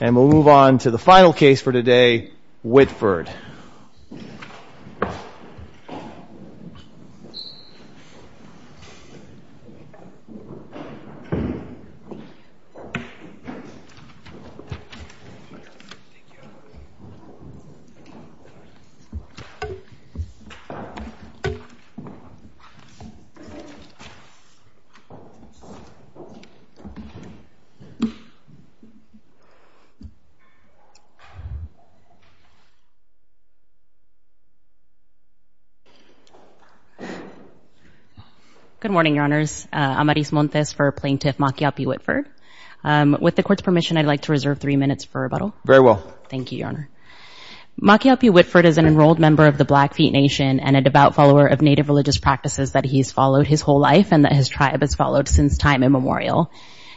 And we'll move on to the final case for today, Whitford. Good morning, Your Honors. I'm Aris Montes for Plaintiff Makiapi Whitford. With the Court's permission, I'd like to reserve three minutes for rebuttal. Very well. Thank you, Your Honor. Makiapi Whitford is an enrolled member of the Blackfeet Nation and a devout follower of Native religious practices that he's followed his whole life and that his tribe has followed since time immemorial.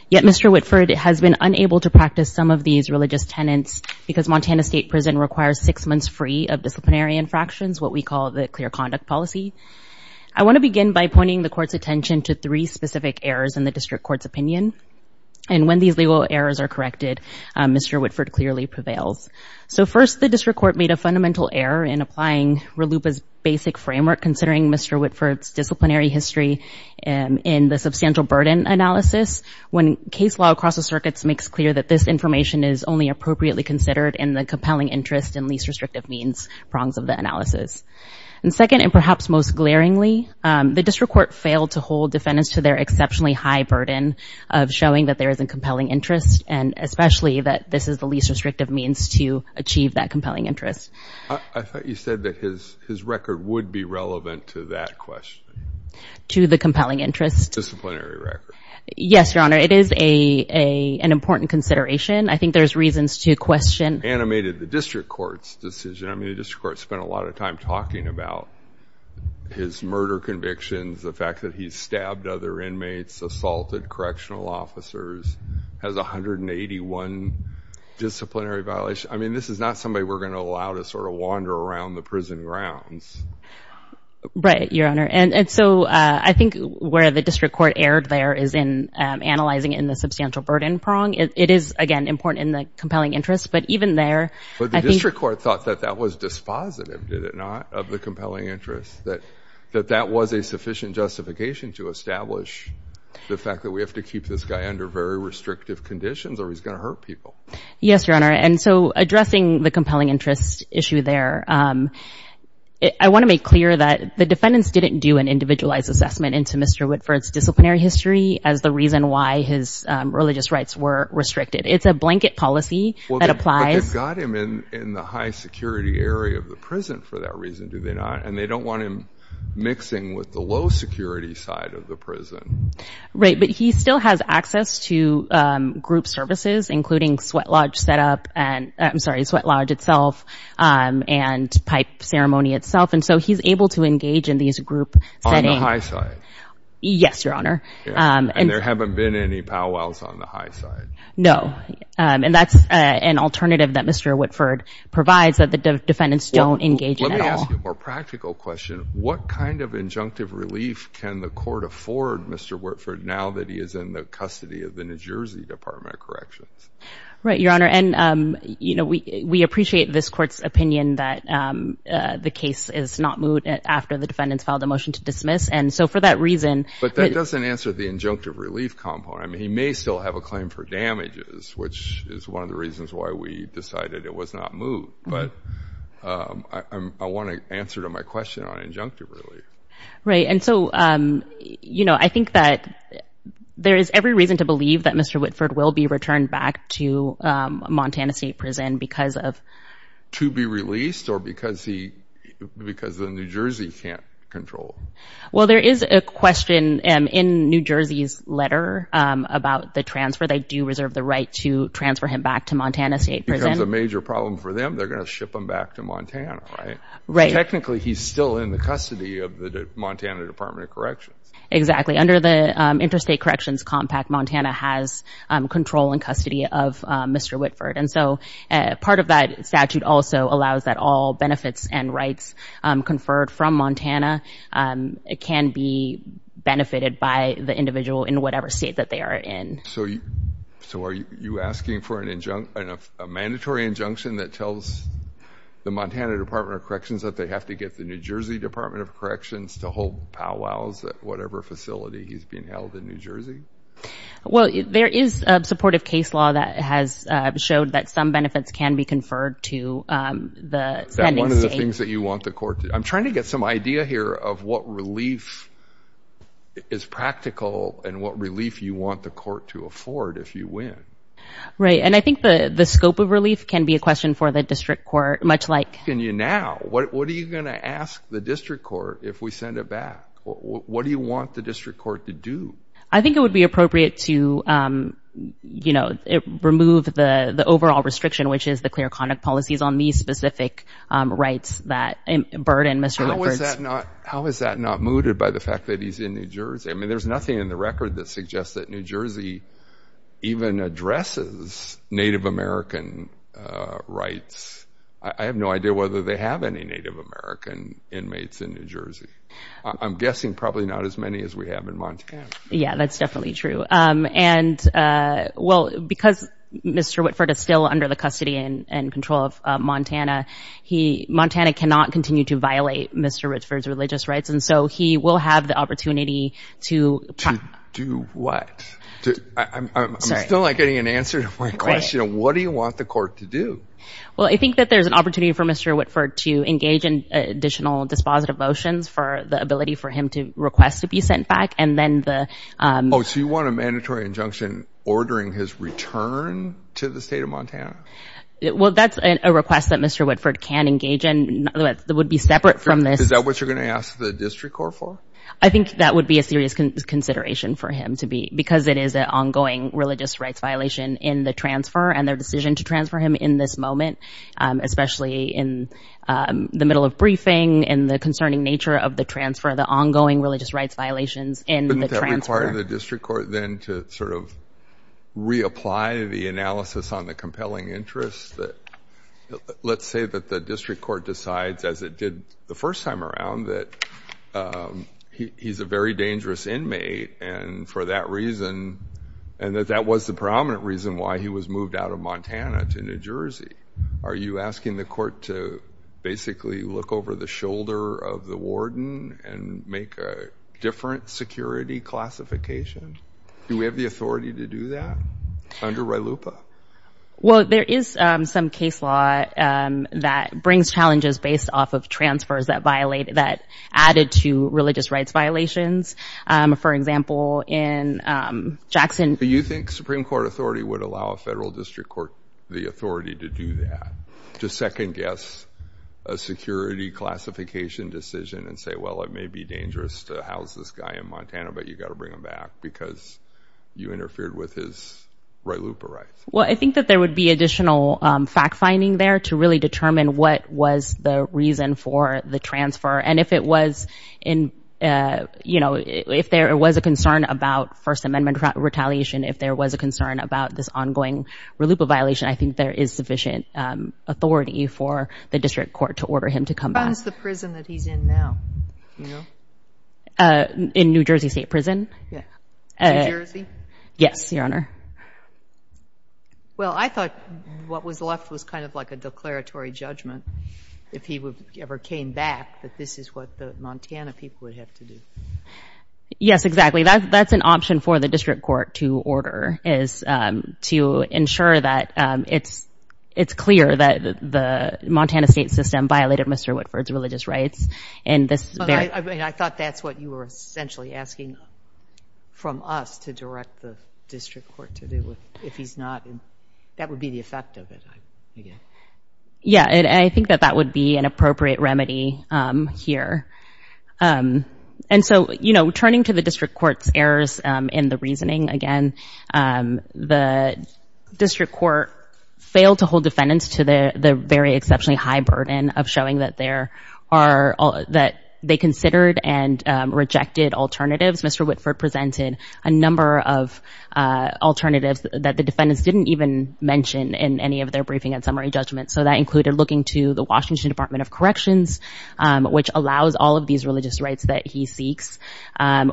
Yet Mr. Whitford has been unable to practice some of these religious tenets because Montana State Prison requires six months free of disciplinary infractions, what we call the clear conduct policy. I want to begin by pointing the Court's attention to three specific errors in the District Court's opinion. And when these legal errors are corrected, Mr. Whitford clearly prevails. So first, the District Court made a fundamental error in applying RLUIPA's basic framework considering Mr. Whitford's disciplinary history in the substantial burden analysis. When case law across the circuits makes clear that this information is only appropriately considered in the compelling interest and least restrictive means prongs of the analysis. And second, and perhaps most glaringly, the District Court failed to hold defendants to their exceptionally high burden of showing that there is a compelling interest and especially that this is the least restrictive means to achieve that compelling interest. I thought you said that his record would be relevant to that question. To the compelling interest. Disciplinary record. Yes, Your Honor. It is an important consideration. I think there's reasons to question. Animated the District Court's decision. I mean, the District Court spent a lot of time talking about his murder convictions, the fact that he's stabbed other inmates, assaulted correctional officers, has 181 disciplinary violations. I mean, this is not somebody we're going to allow to sort of wander around the prison grounds. Right, Your Honor. And so I think where the District Court erred there is in analyzing in the substantial burden prong. It is, again, important in the compelling interest. But even there. But the District Court thought that that was dispositive, did it not, of the compelling interest, that that was a sufficient justification to establish the fact that we have to keep this guy under very restrictive conditions or he's going to hurt people. Yes, Your Honor. And so addressing the compelling interest issue there, I want to make clear that the defendants didn't do an individualized assessment into Mr. Whitford's disciplinary history as the reason why his religious rights were restricted. It's a blanket policy that applies. But they've got him in the high security area of the prison for that reason, do they not? And they don't want him mixing with the low security side of the prison. Right. But he still has access to group services, including sweat lodge set up and I'm sorry, sweat lodge itself and pipe ceremony itself. And so he's able to engage in these group settings. Yes, Your Honor. And there haven't been any powwows on the high side. No. And that's an alternative that Mr. Whitford provides that the defendants don't engage in at all. Let me ask you a more practical question. What kind of injunctive relief can the court afford Mr. Whitford now that he is in the custody of the New Jersey Department of Corrections? Right, Your Honor. And, you know, we appreciate this court's opinion that the case is not moved after the defendants filed a motion to dismiss. And so for that reason... But that doesn't answer the injunctive relief component. I mean, he may still have a claim for damages, which is one of the reasons why we decided it was not moved. But I want to answer to my question on injunctive relief. Right. And so, you know, I think that there is every reason to believe that Mr. Whitford will be returned back to Montana State Prison because of... To be released or because he... Because the New Jersey can't control. Well, there is a question in New Jersey's letter about the transfer. They do reserve the right to transfer him back to Montana State Prison. If it becomes a major problem for them, they're going to ship him back to Montana, right? Right. Technically, he's still in the custody of the Montana Department of Corrections. Exactly. Under the Interstate Corrections Compact, Montana has control and custody of Mr. Whitford. And so part of that statute also allows that all benefits and rights conferred from Montana can be benefited by the individual in whatever state that they are in. So are you asking for an injunctive... an mandatory injunction that tells the Montana Department of Corrections that they have to get the New Jersey Department of Corrections to hold powwows at whatever facility he's being held in New Jersey? Well, there is a supportive case law that has showed that some benefits can be conferred to the standing state. Is that one of the things that you want the court to... I'm trying to get some idea here of what relief is practical and what relief you want the court to afford if you win. Right. And I think the scope of relief can be a question for the district court, much like... I'm asking you now, what are you going to ask the district court if we send it back? What do you want the district court to do? I think it would be appropriate to remove the overall restriction, which is the clear conduct policies on these specific rights that burden Mr. Whitford's... How is that not mooted by the fact that he's in New Jersey? I mean, there's nothing in the record that suggests that New Jersey even addresses Native American rights. I have no idea whether they have any Native American inmates in New Jersey. I'm guessing probably not as many as we have in Montana. Yeah, that's definitely true. And well, because Mr. Whitford is still under the custody and control of Montana, Montana cannot continue to violate Mr. Whitford's religious rights. And so he will have the opportunity to... To do what? I'm still not getting an answer to my question. What do you want the court to do? Well, I think that there's an opportunity for Mr. Whitford to engage in additional dispositive motions for the ability for him to request to be sent back. And then the... Oh, so you want a mandatory injunction ordering his return to the state of Montana? Well, that's a request that Mr. Whitford can engage in. It would be separate from this. Is that what you're going to ask the district court for? I think that would be a serious consideration for him to be... Because it is an ongoing religious rights violation in the transfer and their decision to transfer him in this moment, especially in the middle of briefing and the concerning nature of the transfer, the ongoing religious rights violations in the transfer. But that required the district court then to sort of reapply the analysis on the compelling interests that... Let's say that the district court decides, as it did the first time around, that he's a very dangerous inmate. And for that reason, and that that was the prominent reason why he was moved out of Montana to New Jersey. Are you asking the court to basically look over the shoulder of the warden and make a different security classification? Do we have the authority to do that under RYLUPA? Well, there is some case law that brings challenges based off of transfers that added to religious rights violations. For example, in Jackson... Do you think Supreme Court authority would allow a federal district court the authority to do that? To second guess a security classification decision and say, well, it may be dangerous to house this guy in Montana, but you got to bring him back because you interfered with his RYLUPA rights. Well, I think that there would be additional fact finding there to really determine what was the reason for the transfer. And if there was a concern about First Amendment retaliation, if there was a concern about this ongoing RYLUPA violation, I think there is sufficient authority for the district court to order him to come back. How is the prison that he's in now? You know? In New Jersey State Prison. Yeah. New Jersey? Yes, Your Honor. Well, I thought what was left was kind of like a declaratory judgment. If he ever came back, that this is what the Montana people would have to do. Yes, exactly. That's an option for the district court to order is to ensure that it's clear that the Montana state system violated Mr. Whitford's religious rights. And I thought that's what you were essentially asking from us to direct the district court to do if he's not. That would be the effect of it. Yeah. And I think that that would be an appropriate remedy here. And so, you know, turning to the district court's errors in the reasoning again, the district court failed to hold defendants to the very exceptionally high burden of showing that they considered and rejected alternatives. Mr. Whitford presented a number of alternatives that the defendants didn't even mention in any of their briefing and summary judgments. So that included looking to the Washington Department of Corrections, which allows all of these religious rights that he seeks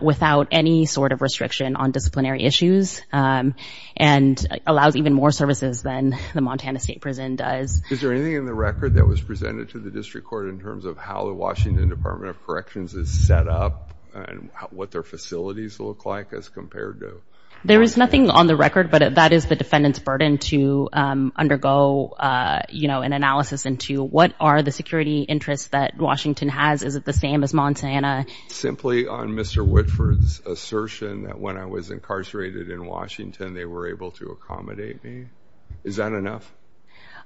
without any sort of restriction on disciplinary issues and allows even more services than the Montana state prison does. Is there anything in the record that was presented to the district court in terms of how the Washington Department of Corrections is set up and what their facilities look like as compared to? There is nothing on the record, but that is the defendant's burden to undergo, you know, an analysis into what are the security interests that Washington has. Is it the same as Montana? Simply on Mr. Whitford's assertion that when I was incarcerated in Washington, they were able to accommodate me. Is that enough?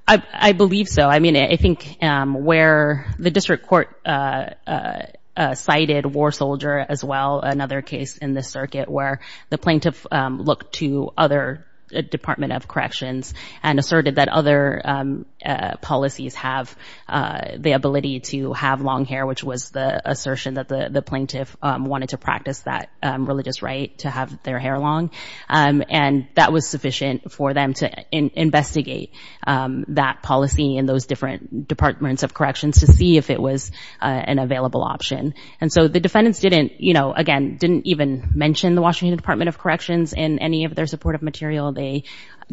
I believe so. I mean, I think where the district court cited war soldier as well, another case in the circuit where the plaintiff looked to other Department of Corrections and asserted that other policies have the ability to have long hair, which was the assertion that the plaintiff wanted to practice that religious right to have their hair long. And that was sufficient for them to investigate that policy in those different Departments of Corrections to see if it was an available option. And so the defendants didn't, you know, again, didn't even mention the Washington Department of Corrections in any of their supportive material. They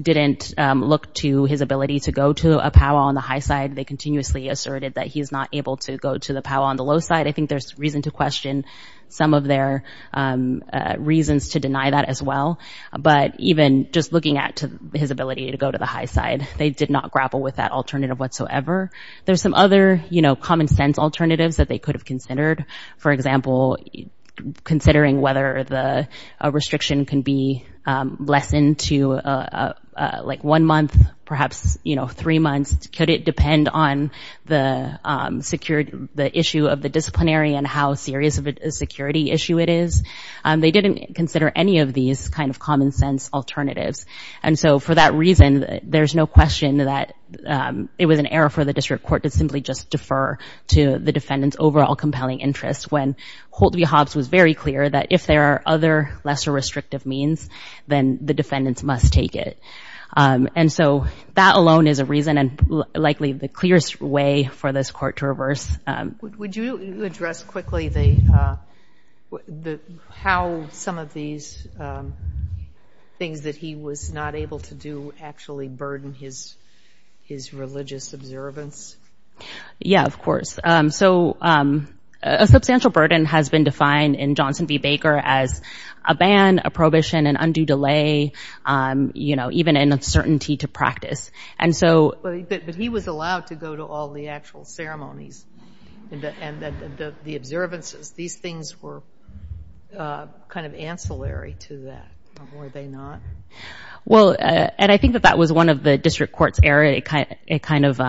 didn't look to his ability to go to a powwow on the high side. They continuously asserted that he is not able to go to the powwow on the low side. I think there's reason to question some of their reasons to deny that as well. But even just looking at his ability to go to the high side, they did not grapple with that alternative whatsoever. There's some other, you know, common sense alternatives that they could have considered. For example, considering whether the restriction can be lessened to like one month, perhaps, you know, three months. Could it depend on the security, the issue of the disciplinary and how serious of a security issue it is? They didn't consider any of these kind of common sense alternatives. And so for that reason, there's no question that it was an error for the district court to simply just defer to the defendant's overall compelling interest when Holt v. Hobbs was very clear that if there are other lesser restrictive means, then the defendants must take it. And so that alone is a reason and likely the clearest way for this court to reverse. Would you address quickly how some of these things that he was not able to do actually burden his religious observance? Yeah, of course. So a substantial burden has been defined in Johnson v. Hobbs as a ban, a prohibition, an undue delay, you know, even an uncertainty to practice. And so... But he was allowed to go to all the actual ceremonies and the observances. These things were kind of ancillary to that, were they not? Well, and I think that that was one of the district court's error. It kind of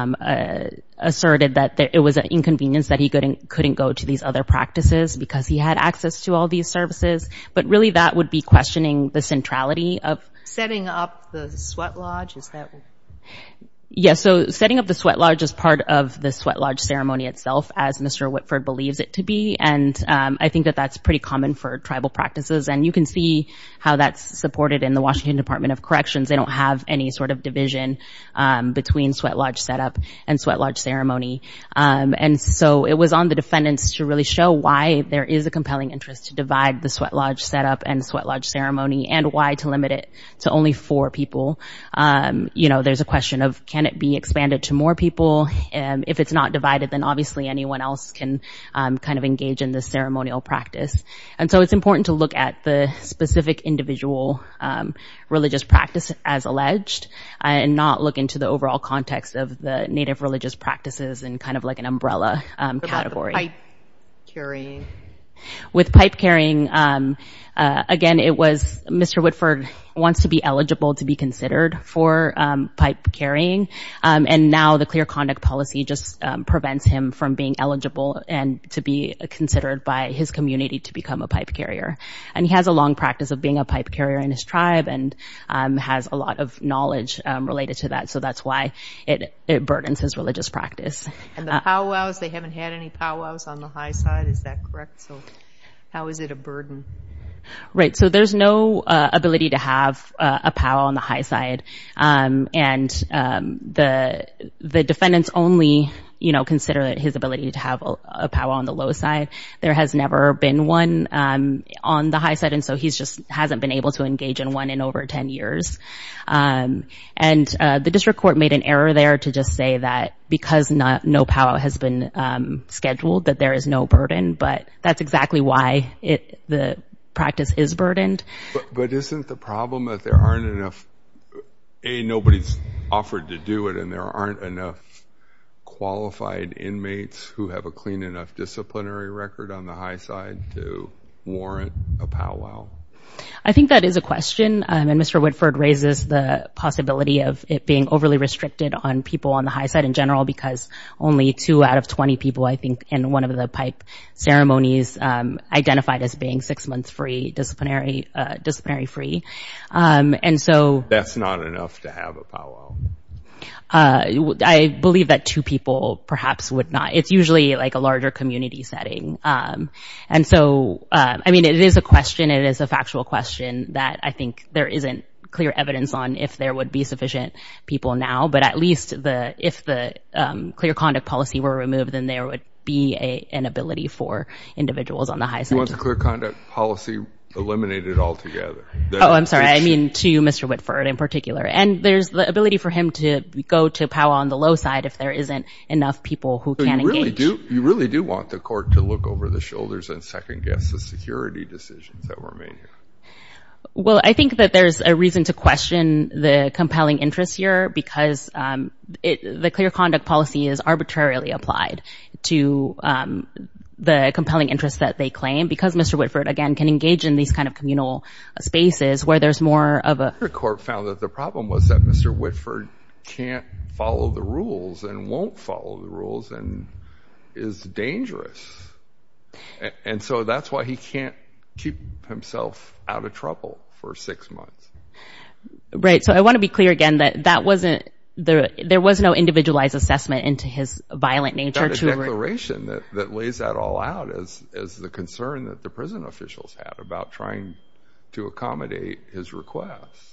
asserted that it was an inconvenience that he couldn't go to these other practices because he had access to all these services. But really, that would be questioning the centrality of... Setting up the sweat lodge, is that...? Yeah. So setting up the sweat lodge is part of the sweat lodge ceremony itself, as Mr. Whitford believes it to be. And I think that that's pretty common for tribal practices. And you can see how that's supported in the Washington Department of Corrections. They don't have any sort of division between sweat lodge setup and sweat lodge ceremony. And so it was on the defendants to really show why there is a compelling interest to divide the sweat lodge setup and sweat lodge ceremony, and why to limit it to only four people. You know, there's a question of, can it be expanded to more people? And if it's not divided, then obviously anyone else can kind of engage in this ceremonial practice. And so it's important to look at the specific individual religious practice as alleged, and not look into the overall context of the native religious practices, and kind of like an umbrella category. With pipe carrying, again, it was... Mr. Whitford wants to be eligible to be considered for pipe carrying. And now the clear conduct policy just prevents him from being eligible and to be considered by his community to become a pipe carrier. And he has a long practice of being a pipe carrier, and that's why it burdens his religious practice. And the pow wows, they haven't had any pow wows on the high side, is that correct? So how is it a burden? Right. So there's no ability to have a pow wow on the high side. And the defendants only, you know, consider his ability to have a pow wow on the low side. There has never been one on the high side, and so he's just hasn't been able to engage in one in over 10 years. And the district court made an error there to just say that because no pow wow has been scheduled, that there is no burden. But that's exactly why the practice is burdened. But isn't the problem that there aren't enough... A, nobody's offered to do it, and there aren't enough qualified inmates who have a clean enough disciplinary record on the high side to warrant a pow wow? I think that is a question. And Mr. Whitford raises the possibility of it being overly restricted on people on the high side in general, because only two out of 20 people, I think, in one of the pipe ceremonies identified as being six months free, disciplinary free. And so... That's not enough to have a pow wow. I believe that two people perhaps would not. It's usually like a larger community setting. And so, I mean, it is a question. It is a factual question that I think there isn't clear evidence on if there would be sufficient people now. But at least if the clear conduct policy were removed, then there would be an ability for individuals on the high side. You want the clear conduct policy eliminated altogether? Oh, I'm sorry. I mean to Mr. Whitford in particular. And there's the ability for him to go to pow wow on the low side if there isn't enough people who can engage. You really do want the court to look over the shoulders and second-guess the security decisions that were made here? Well, I think that there's a reason to question the compelling interest here, because the clear conduct policy is arbitrarily applied to the compelling interest that they claim. Because Mr. Whitford, again, can engage in these kind of communal spaces where there's more of a... The court found that the problem was that Mr. Whitford can't follow the rules and won't follow the rules and is dangerous. And so that's why he can't keep himself out of trouble for six months. Right. So I want to be clear again that that wasn't... There was no individualized assessment into his violent nature to... He's got a declaration that lays that all out as the concern that the prison officials had about trying to accommodate his requests.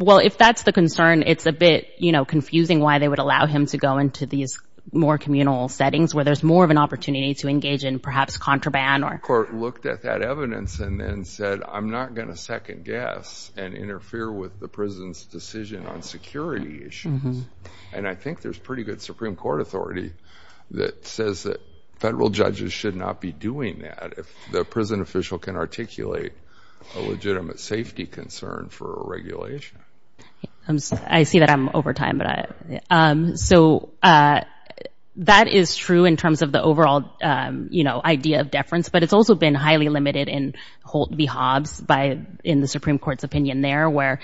Well, if that's the concern, it's a bit confusing why they would allow him to go into these more communal settings where there's more of an opportunity to engage in perhaps contraband or... Court looked at that evidence and then said, I'm not going to second-guess and interfere with the prison's decision on security issues. And I think there's pretty good Supreme Court authority that says that federal judges should not be doing that if the prison official can articulate a legitimate safety concern for a regulation. I see that I'm over time. So that is true in terms of the overall idea of deference, but it's also been highly limited in Holt v. Hobbs in the Supreme Court's opinion there, where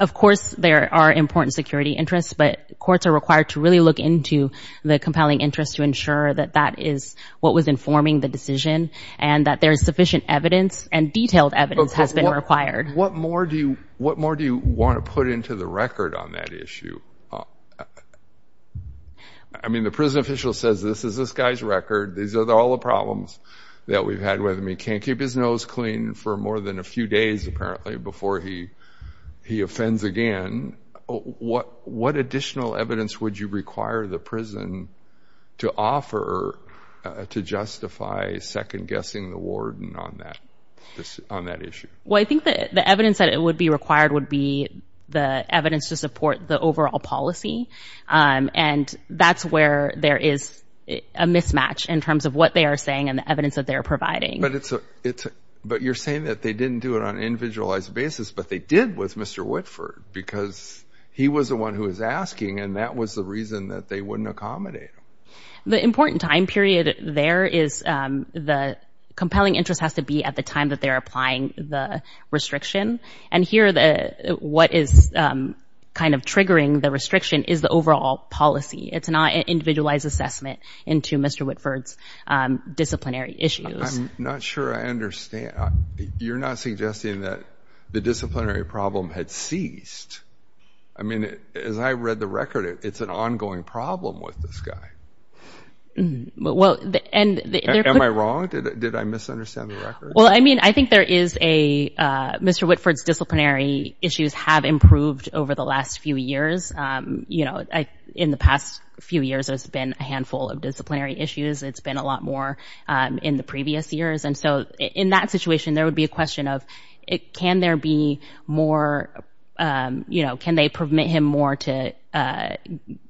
of course there are important security interests, but courts are required to really look into the compelling interest to ensure that that is what was informing the decision and that there is sufficient evidence and detailed evidence has been required. What more do you want to put into the record on that issue? I mean, the prison official says, this is this guy's record. These are all the problems that we've had with him. He can't keep his nose clean for more than a few days, apparently, before he offends again. What additional evidence would you require the prison to offer to justify second-guessing the warden on that issue? Well, I think that the evidence that would be required would be the evidence to support the overall policy. And that's where there is a mismatch in terms of what they are saying and the evidence that they're providing. But you're saying that they didn't do it on an individualized basis, but they did with Mr. The important time period there is the compelling interest has to be at the time that they're applying the restriction. And here, what is kind of triggering the restriction is the overall policy. It's not an individualized assessment into Mr. Whitford's disciplinary issues. I'm not sure I understand. You're not suggesting that the disciplinary problem had ceased. I mean, as I read the record, it's an ongoing problem with this guy. Am I wrong? Did I misunderstand the record? Well, I mean, I think there is a Mr. Whitford's disciplinary issues have improved over the last few years. You know, in the past few years, there's been a handful of disciplinary issues. It's been a lot more in the previous years. And so in that situation, there would be a question of can there be more, you know, can they permit him more to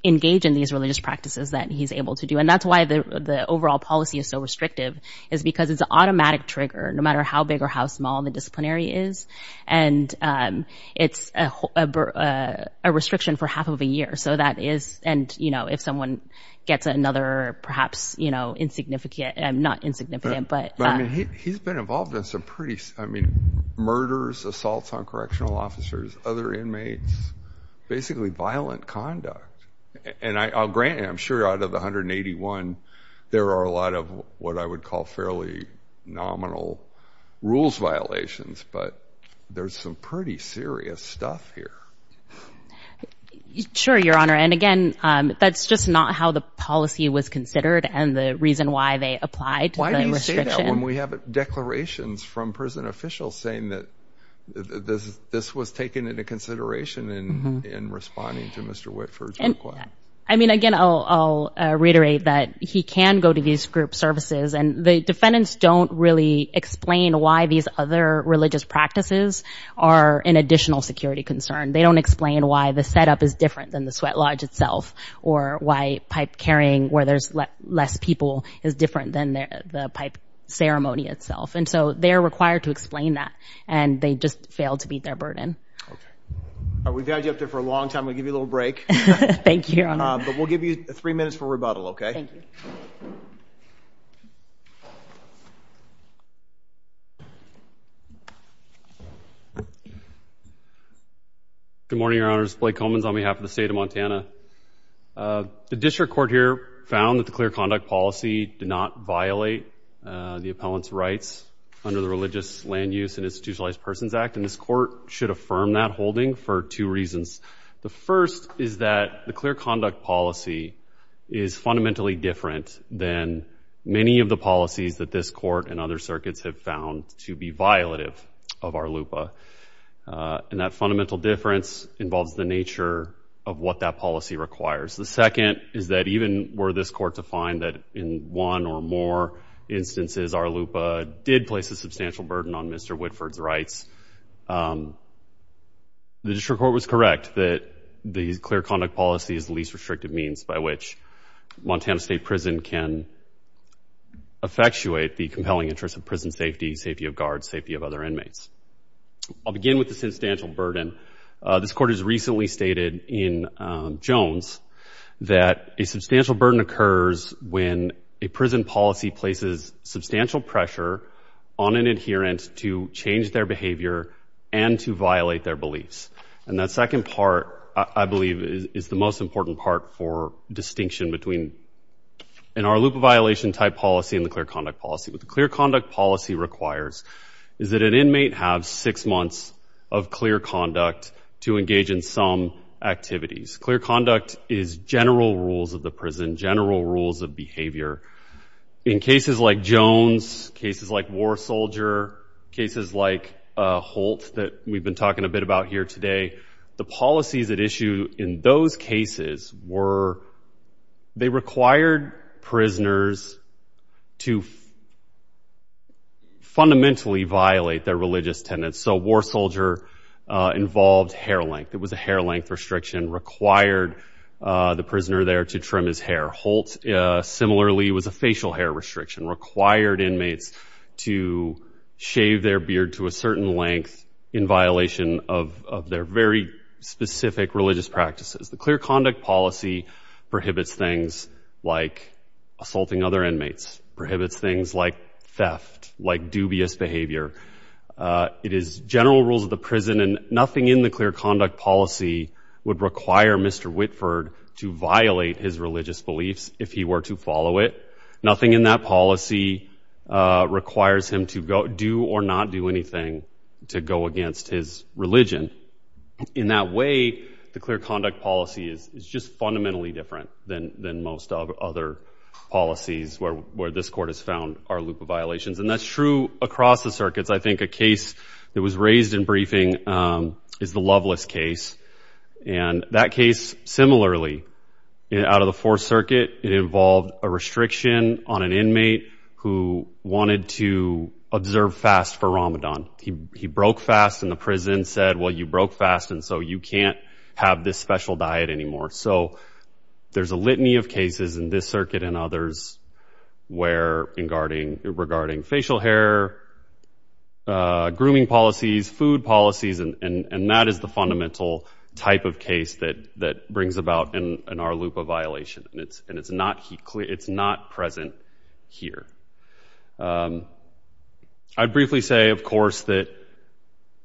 engage in these religious practices that he's able to do? And that's why the overall policy is so restrictive is because it's an automatic trigger, no matter how big or how small the disciplinary is. And it's a restriction for half of a year. So that is and, you know, if someone gets another, perhaps, you know, insignificant, not insignificant, but he's been involved in some I mean, murders, assaults on correctional officers, other inmates, basically violent conduct. And I'll grant I'm sure out of 181, there are a lot of what I would call fairly nominal rules violations. But there's some pretty serious stuff here. Sure, Your Honor. And again, that's just not how the policy was considered and the reason why they Why do you say that when we have declarations from prison officials saying that this was taken into consideration in responding to Mr. Whitford's request? I mean, again, I'll reiterate that he can go to these group services and the defendants don't really explain why these other religious practices are an additional security concern. They don't explain why the setup is different than the sweat lodge itself, or why pipe carrying where there's less people is different than the pipe ceremony itself. And so they're required to explain that. And they just failed to beat their burden. We've had you up there for a long time. We'll give you a little break. Thank you, Your Honor. But we'll give you three minutes for rebuttal, okay? Good morning, Your Honors. Blake Comins on behalf of the state of Montana. The district court here found that the clear conduct policy did not violate the appellant's rights under the Religious Land Use and Institutionalized Persons Act. And this court should affirm that holding for two reasons. The first is that the clear conduct policy is fundamentally different than many of the policies that this court and other circuits have found to be violative of our LUPA. And that fundamental difference involves the nature of what that policy requires. The second is that even were this court to find that in one or more instances our LUPA did place a substantial burden on Mr. Whitford's rights, the district court was correct that the clear conduct policy is the least restrictive means by which Montana State Prison can effectuate the compelling interest of prison safety, safety of guards, safety of other inmates. I'll begin with the substantial burden. This court has recently stated in Jones that a substantial burden occurs when a prison policy places substantial pressure on an adherent to change their behavior and to violate their beliefs. And that second part, I believe, is the most important part for distinction between in our LUPA violation type policy and the clear conduct policy. What the clear conduct policy requires is that an inmate have six months of clear conduct to engage in some activities. Clear conduct is general rules of the prison, general rules of behavior. In cases like Jones, cases like War Soldier, cases like Holt that we've been talking a bit about here today, the policies at issue in those cases were they required prisoners to fundamentally violate their religious tenets. So War Soldier involved hair length. It was a hair length restriction required the prisoner there to trim his hair. Holt similarly was a facial hair restriction required inmates to shave their beard to a certain length in violation of their very specific religious practices. The clear conduct policy prohibits things like assaulting other inmates, prohibits things like theft, like dubious behavior. It is general rules of the prison and nothing in the clear conduct policy would require Mr. Whitford to violate his religious beliefs if he were to follow it. Nothing in that policy requires him to go do or not do anything to go against his religion. In that way, the clear conduct policy is just fundamentally different than most other policies where this court has found our loop of violations. And that's true across the circuits. I think a case that was raised in briefing is the Loveless case. And that case, similarly, out of the Fourth Circuit, it involved a restriction on an inmate who wanted to observe fast for Ramadan. He broke fast and the prison said, well, you broke fast and so you can't have this special diet anymore. So there's a litany of cases in this circuit and others regarding facial hair, grooming policies, food policies. And that is the fundamental type of case that brings about an our loop of violation. And it's not present here. I'd briefly say, of course, that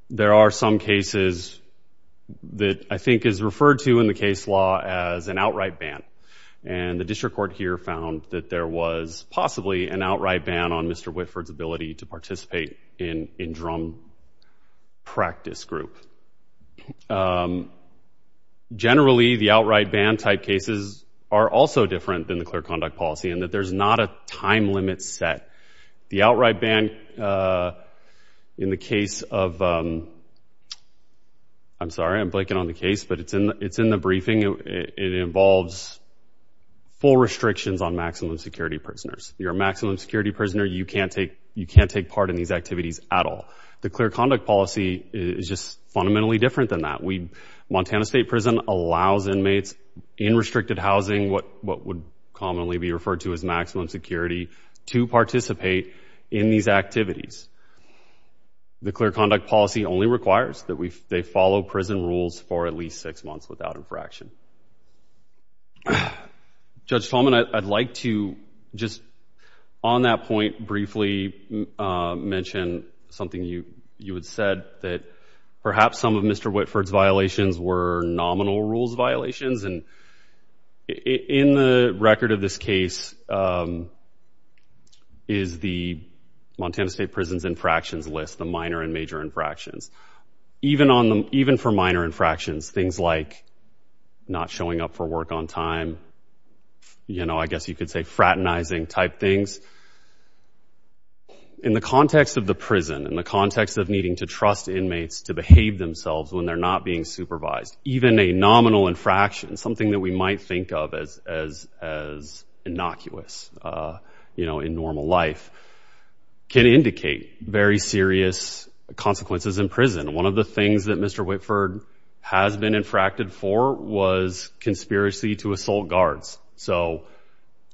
there are some cases that I think is referred to in the case law as an outright ban. And the district court here found that there was possibly an outright ban on Mr. Whitford's ability to participate in drum practice group. Generally, the outright ban type cases are also different than the clear conduct policy in that there's not a time limit set. The outright ban in the case of, I'm sorry, I'm blanking on the case, but it's in the briefing. It involves full restrictions on maximum security prisoners. You're a maximum security prisoner. You can't take part in these activities at all. The clear conduct policy is just fundamentally different than that. Montana State Prison allows inmates in restricted housing, what would commonly be referred to as maximum security, to participate in these activities. The clear conduct policy only requires that they follow prison rules for at least six months without infraction. Judge Tallman, I'd like to just on that point briefly mention something you you had said that perhaps some of Mr. Whitford's violations were nominal rules violations. And in the record of this case is the Montana State Prison's infractions list, the minor and major infractions. Even for minor infractions, things like not showing up for work on time, you know, I guess you could say fraternizing type things. In the context of the prison, in the context of needing to trust inmates to behave themselves when they're not being supervised, even a nominal infraction, something that we might think of as one of the things that Mr. Whitford has been infracted for was conspiracy to assault guards. So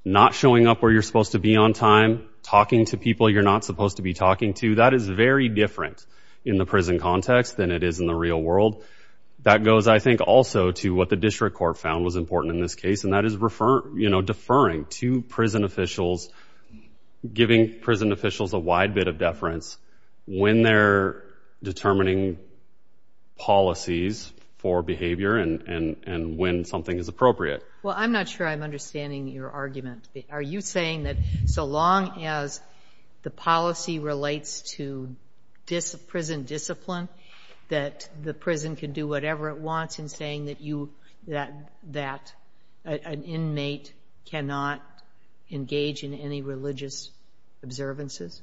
not showing up where you're supposed to be on time, talking to people you're not supposed to be talking to, that is very different in the prison context than it is in the real world. That goes, I think, also to what the district court found was important in this case, and that is deferring to prison officials, giving prison officials a wide bit of deference when they're determining policies for behavior and when something is appropriate. Well, I'm not sure I'm understanding your argument. Are you saying that so long as the policy relates to prison discipline, that the prison can do whatever it wants in saying that an inmate cannot engage in any religious observances?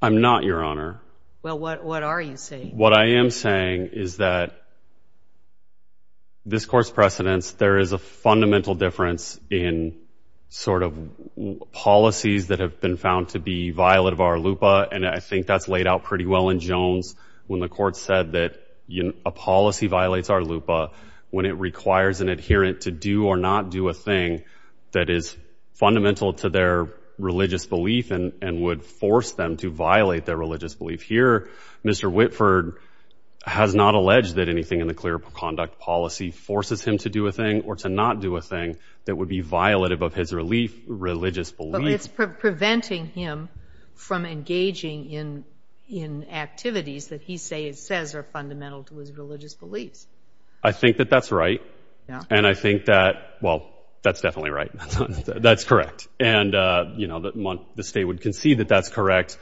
I'm not, Your Honor. Well, what are you saying? What I am saying is that this court's precedents, there is a fundamental difference in sort of policies that have been found to be violent of our lupa, and I think that's laid out pretty well in Jones when the court said that a policy violates our lupa when it requires an adherent to do or not do a thing that is fundamental to their religious belief and would force them to violate their religious belief. Here, Mr. Whitford has not alleged that anything in the clear conduct policy forces him to do a thing or to not do a thing that would be violative of his religious belief. But it's preventing him from engaging in activities that he says are fundamental to his religious beliefs. I think that that's right, and I think that, well, that's definitely right. That's correct. And, you know, the state would concede that that's correct.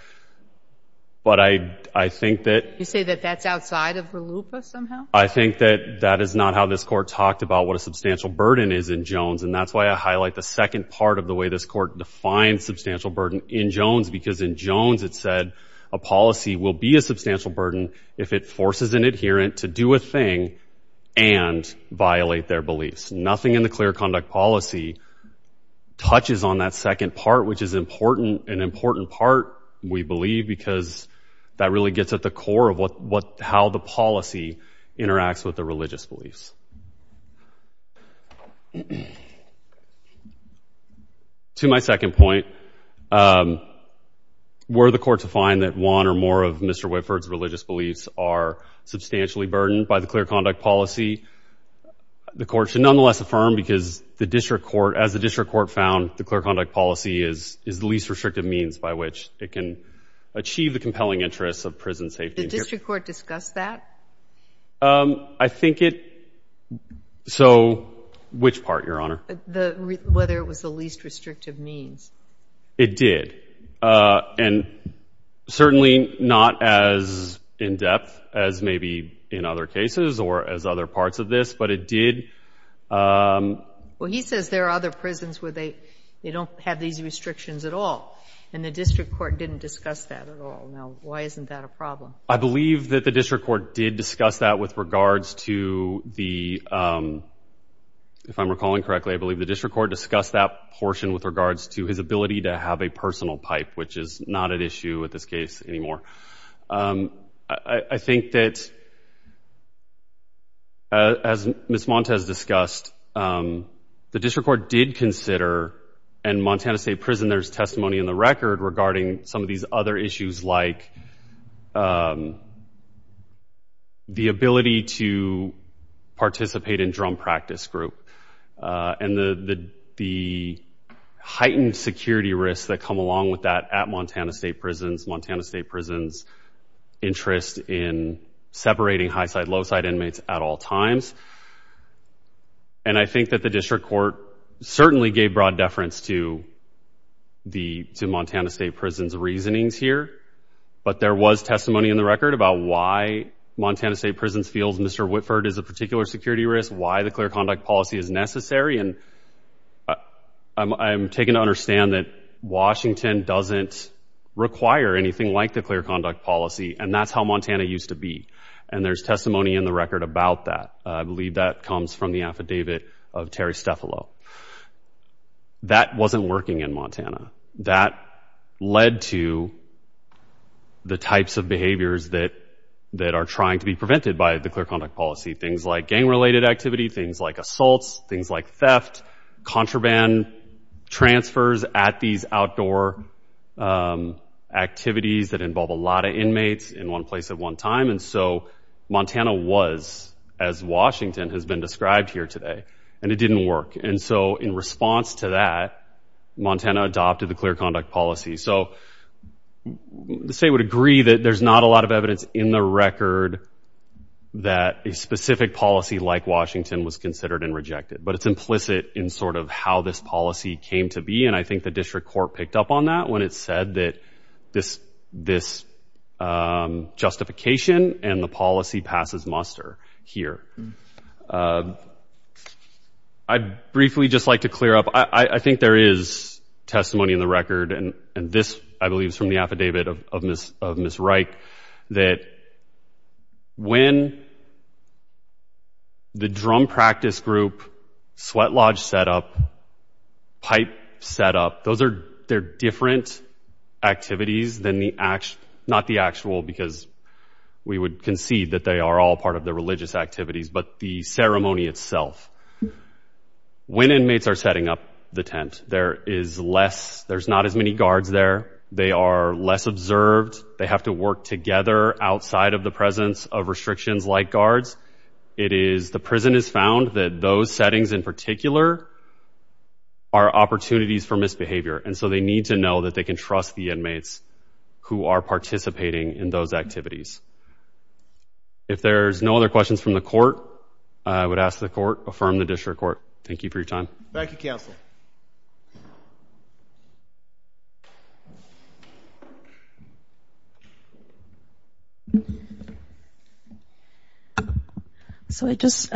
But I think that— You say that that's outside of the lupa somehow? I think that that is not how this court talked about what a substantial burden is in Jones, and that's why I highlight the second part of the way this court defines substantial burden in Jones, because in Jones it said a policy will be a substantial burden if it forces an adherent to a thing and violate their beliefs. Nothing in the clear conduct policy touches on that second part, which is an important part, we believe, because that really gets at the core of how the policy interacts with the religious beliefs. To my second point, were the court to find that one or more of Mr. Whitford's religious beliefs are substantially burdened by the clear conduct policy, the court should nonetheless affirm, because as the district court found, the clear conduct policy is the least restrictive means by which it can achieve the compelling interests of prison safety. Did the district court discuss that? I think it—so which part, Your Honor? Whether it was the least restrictive means. It did, and certainly not as in-depth as maybe in other cases or as other parts of this, but it did— Well, he says there are other prisons where they don't have these restrictions at all, and the district court didn't discuss that at all. Now, why isn't that a problem? I believe that the district court did discuss that with regards to the—if I'm recalling to have a personal pipe, which is not an issue with this case anymore. I think that, as Ms. Montes discussed, the district court did consider, and Montana State Prisoner's testimony in the record regarding some of these other issues like the ability to participate in drum practice group and the heightened security risks that come along with that at Montana State Prisons, Montana State Prisons' interest in separating high-side, low-side inmates at all times, and I think that the district court certainly gave broad deference to the—to Montana State Prisons' reasonings here, but there was testimony in the record about why Montana State Prisons feels Mr. Whitford is a particular security risk, why the clear conduct policy is necessary, and I'm taking to understand that Washington doesn't require anything like the clear conduct policy, and that's how Montana used to be, and there's testimony in the record about that. I believe that comes from the affidavit of Terry Stefalo. That wasn't working in Montana. That led to the types of behaviors that are trying to be prevented by the clear conduct policy, things like gang-related activity, things like assaults, things like theft, contraband transfers at these outdoor activities that involve a lot of inmates in one place at one time, and so Montana was, as Washington has been described here today, and it didn't work, and so in response to that, Montana adopted the clear conduct policy, so the state would agree that there's not a lot of evidence in the record that a specific policy like Washington was considered and rejected, but it's implicit in sort of how this policy came to be, and I think the district court picked up on that when it said that this justification and the policy passes muster here. I'd briefly just like to clear up. I think there is testimony in the record, and this I believe is from the affidavit of Ms. Reich, that when the drum practice group, sweat lodge setup, pipe setup, those are they're different activities than the actual, not the actual because we would concede that they are all part of the religious activities, but the ceremony itself. When inmates are setting up the tent, there is less, there's not as many guards there, they are less observed, they have to work together outside of the presence of restrictions like guards. It is, the prison has found that those settings in particular are opportunities for misbehavior, and so they need to know that they can trust the inmates who are participating in those activities. If there's no other questions from the court, I would ask the court affirm the district court. Thank you for your time. Thank you, counsel. So I just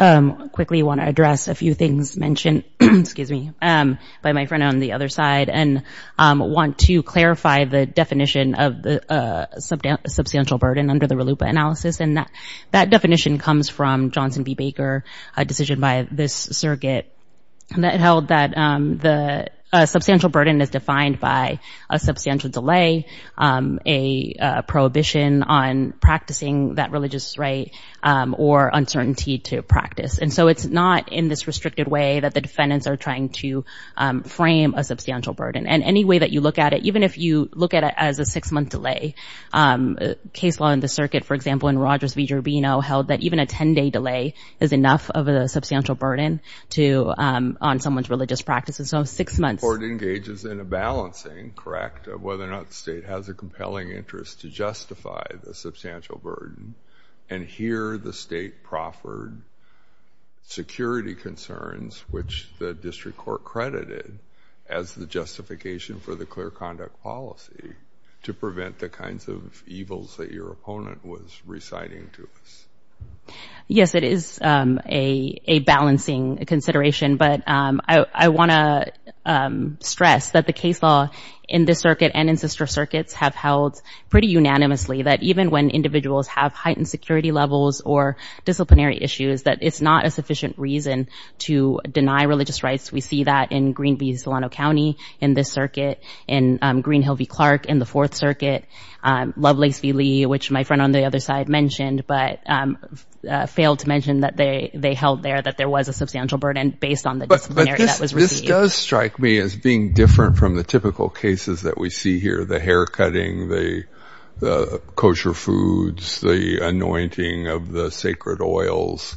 quickly want to address a few things mentioned, excuse me, by my friend on the other side, and want to clarify the definition of the substantial burden under the RLUIPA analysis, and that that definition comes from Johnson B Baker, a decision by this circuit that held that the substantial burden is defined by a substantial delay, a prohibition on practicing that religious right, or uncertainty to practice. And so it's not in this restricted way that the defendants are trying to frame a substantial burden. And any way that you look at it, even if you look at it as a held that even a 10-day delay is enough of a substantial burden to, on someone's religious practices, so six months. The court engages in a balancing, correct, of whether or not the state has a compelling interest to justify the substantial burden, and here the state proffered security concerns, which the district court credited as the justification for the clear to us. Yes, it is a balancing consideration, but I want to stress that the case law in this circuit and in sister circuits have held pretty unanimously that even when individuals have heightened security levels or disciplinary issues, that it's not a sufficient reason to deny religious rights. We see that in Green Bay, Solano County, in this circuit, in Green Hill v. Clark, in the fourth mentioned, but failed to mention that they held there that there was a substantial burden based on the disciplinary that was received. But this does strike me as being different from the typical cases that we see here, the haircutting, the kosher foods, the anointing of the sacred oils.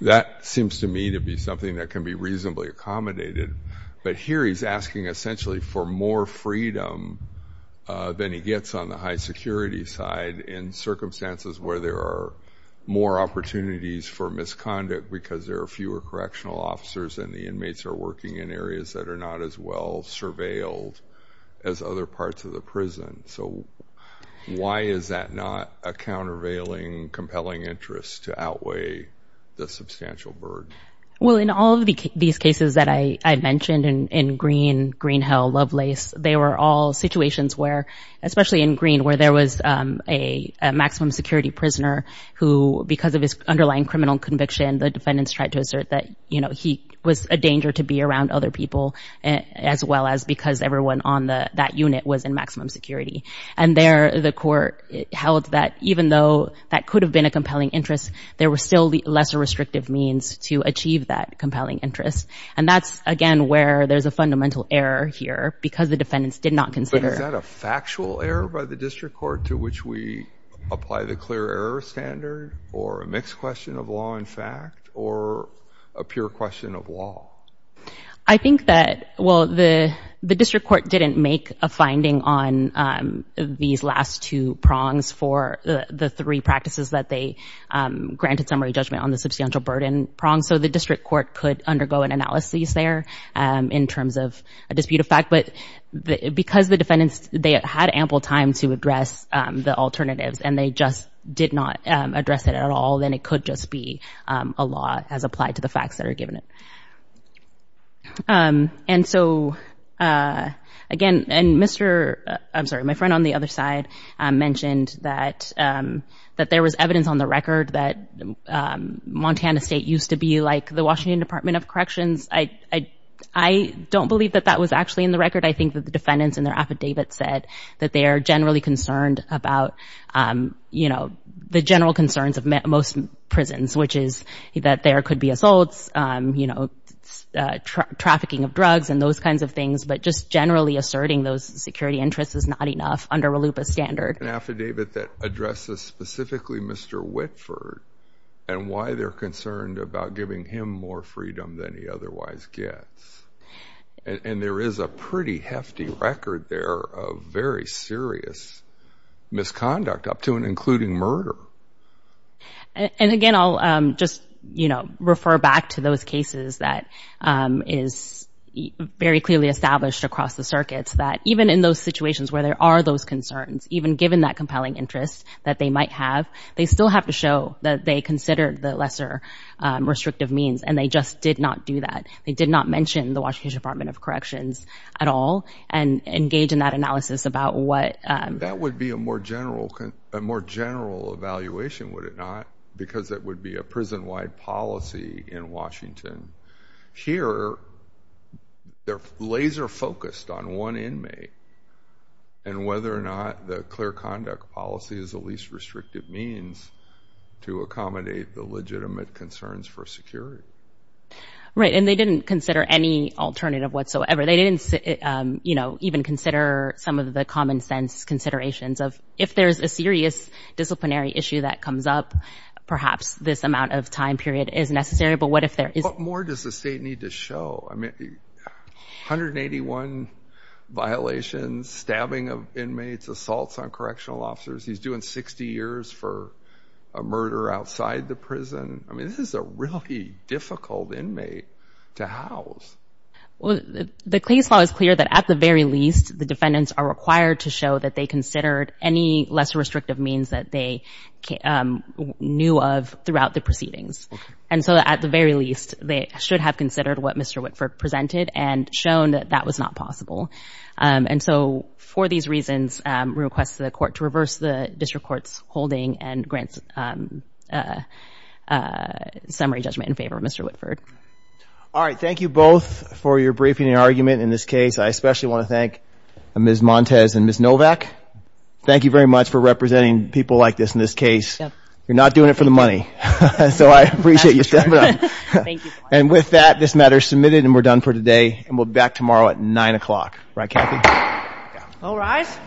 That seems to me to be something that can be reasonably accommodated, but here he's asking essentially for more freedom than he gets on the high security side in circumstances where there are more opportunities for misconduct because there are fewer correctional officers and the inmates are working in areas that are not as well surveilled as other parts of the prison. So why is that not a countervailing compelling interest to outweigh the substantial burden? Well, in all of these cases that I mentioned in Green Hill, Lovelace, they were all situations where, especially in Green, where there was a maximum security prisoner who, because of his underlying criminal conviction, the defendants tried to assert that he was a danger to be around other people as well as because everyone on that unit was in maximum security. And there the court held that even though that could have been a compelling interest, there were still lesser restrictive means to achieve that compelling interest. And that's, again, where there's a fundamental error here because the defendants did not consider... But is that a factual error by the District Court to which we apply the clear error standard or a mixed question of law and fact or a pure question of law? I think that, well, the District Court didn't make a finding on these last two prongs for the three practices that they granted summary judgment on the substantial burden prong, so the District Court could undergo an analysis there in terms of a dispute of fact. But because the defendants, they had ample time to address the alternatives and they just did not address it at all, then it could just be a law as applied to the facts that are given it. And so, again, and Mr., I'm sorry, my friend on the other side mentioned that there was evidence on the record that Montana State used to be like the Washington Department of Corrections. I don't believe that that was actually in the record. I think that the defendants in their affidavit said that they are generally concerned about, you know, the general concerns of most prisons, which is that there could be assaults, you know, trafficking of drugs and those kinds of things, but just generally asserting those security interests is not enough under a LUPA standard. An affidavit that addresses specifically Mr. Whitford and why they're concerned about giving him more freedom than he otherwise gets. And there is a pretty hefty record there of very serious misconduct up to and including murder. And again, I'll just, you know, refer back to those cases that is very clearly established across the circuits that even in those situations where there are those concerns, even given that compelling interest that they might have, they still have to show that they consider the lesser restrictive means and they just did not do that. They did not mention the Washington Department of Corrections at all and engage in that analysis about what... a more general evaluation, would it not? Because that would be a prison-wide policy in Washington. Here, they're laser focused on one inmate and whether or not the clear conduct policy is the least restrictive means to accommodate the legitimate concerns for security. Right, and they didn't consider any alternative whatsoever. They didn't, you know, even consider some of the common sense considerations of if there's a serious disciplinary issue that comes up, perhaps this amount of time period is necessary. But what if there is... What more does the state need to show? I mean, 181 violations, stabbing of inmates, assaults on correctional officers. He's doing 60 years for a murder outside the prison. I mean, this is a really difficult inmate to house. Well, the case law is clear that at the very least, the defendants are required to show that they considered any lesser restrictive means that they knew of throughout the proceedings. And so, at the very least, they should have considered what Mr. Whitford presented and shown that that was not possible. And so, for these reasons, we request the court to reverse the district court's holding and grant summary judgment in favor of Mr. Whitford. All right. Thank you both for your briefing and argument in this case. I especially want to thank Ms. Montes and Ms. Novak. Thank you very much for representing people like this in this case. You're not doing it for the money, so I appreciate you stepping up. And with that, this matter is submitted and we're done for today, and we'll be back tomorrow at 9 o'clock. Right, Kathy? All rise.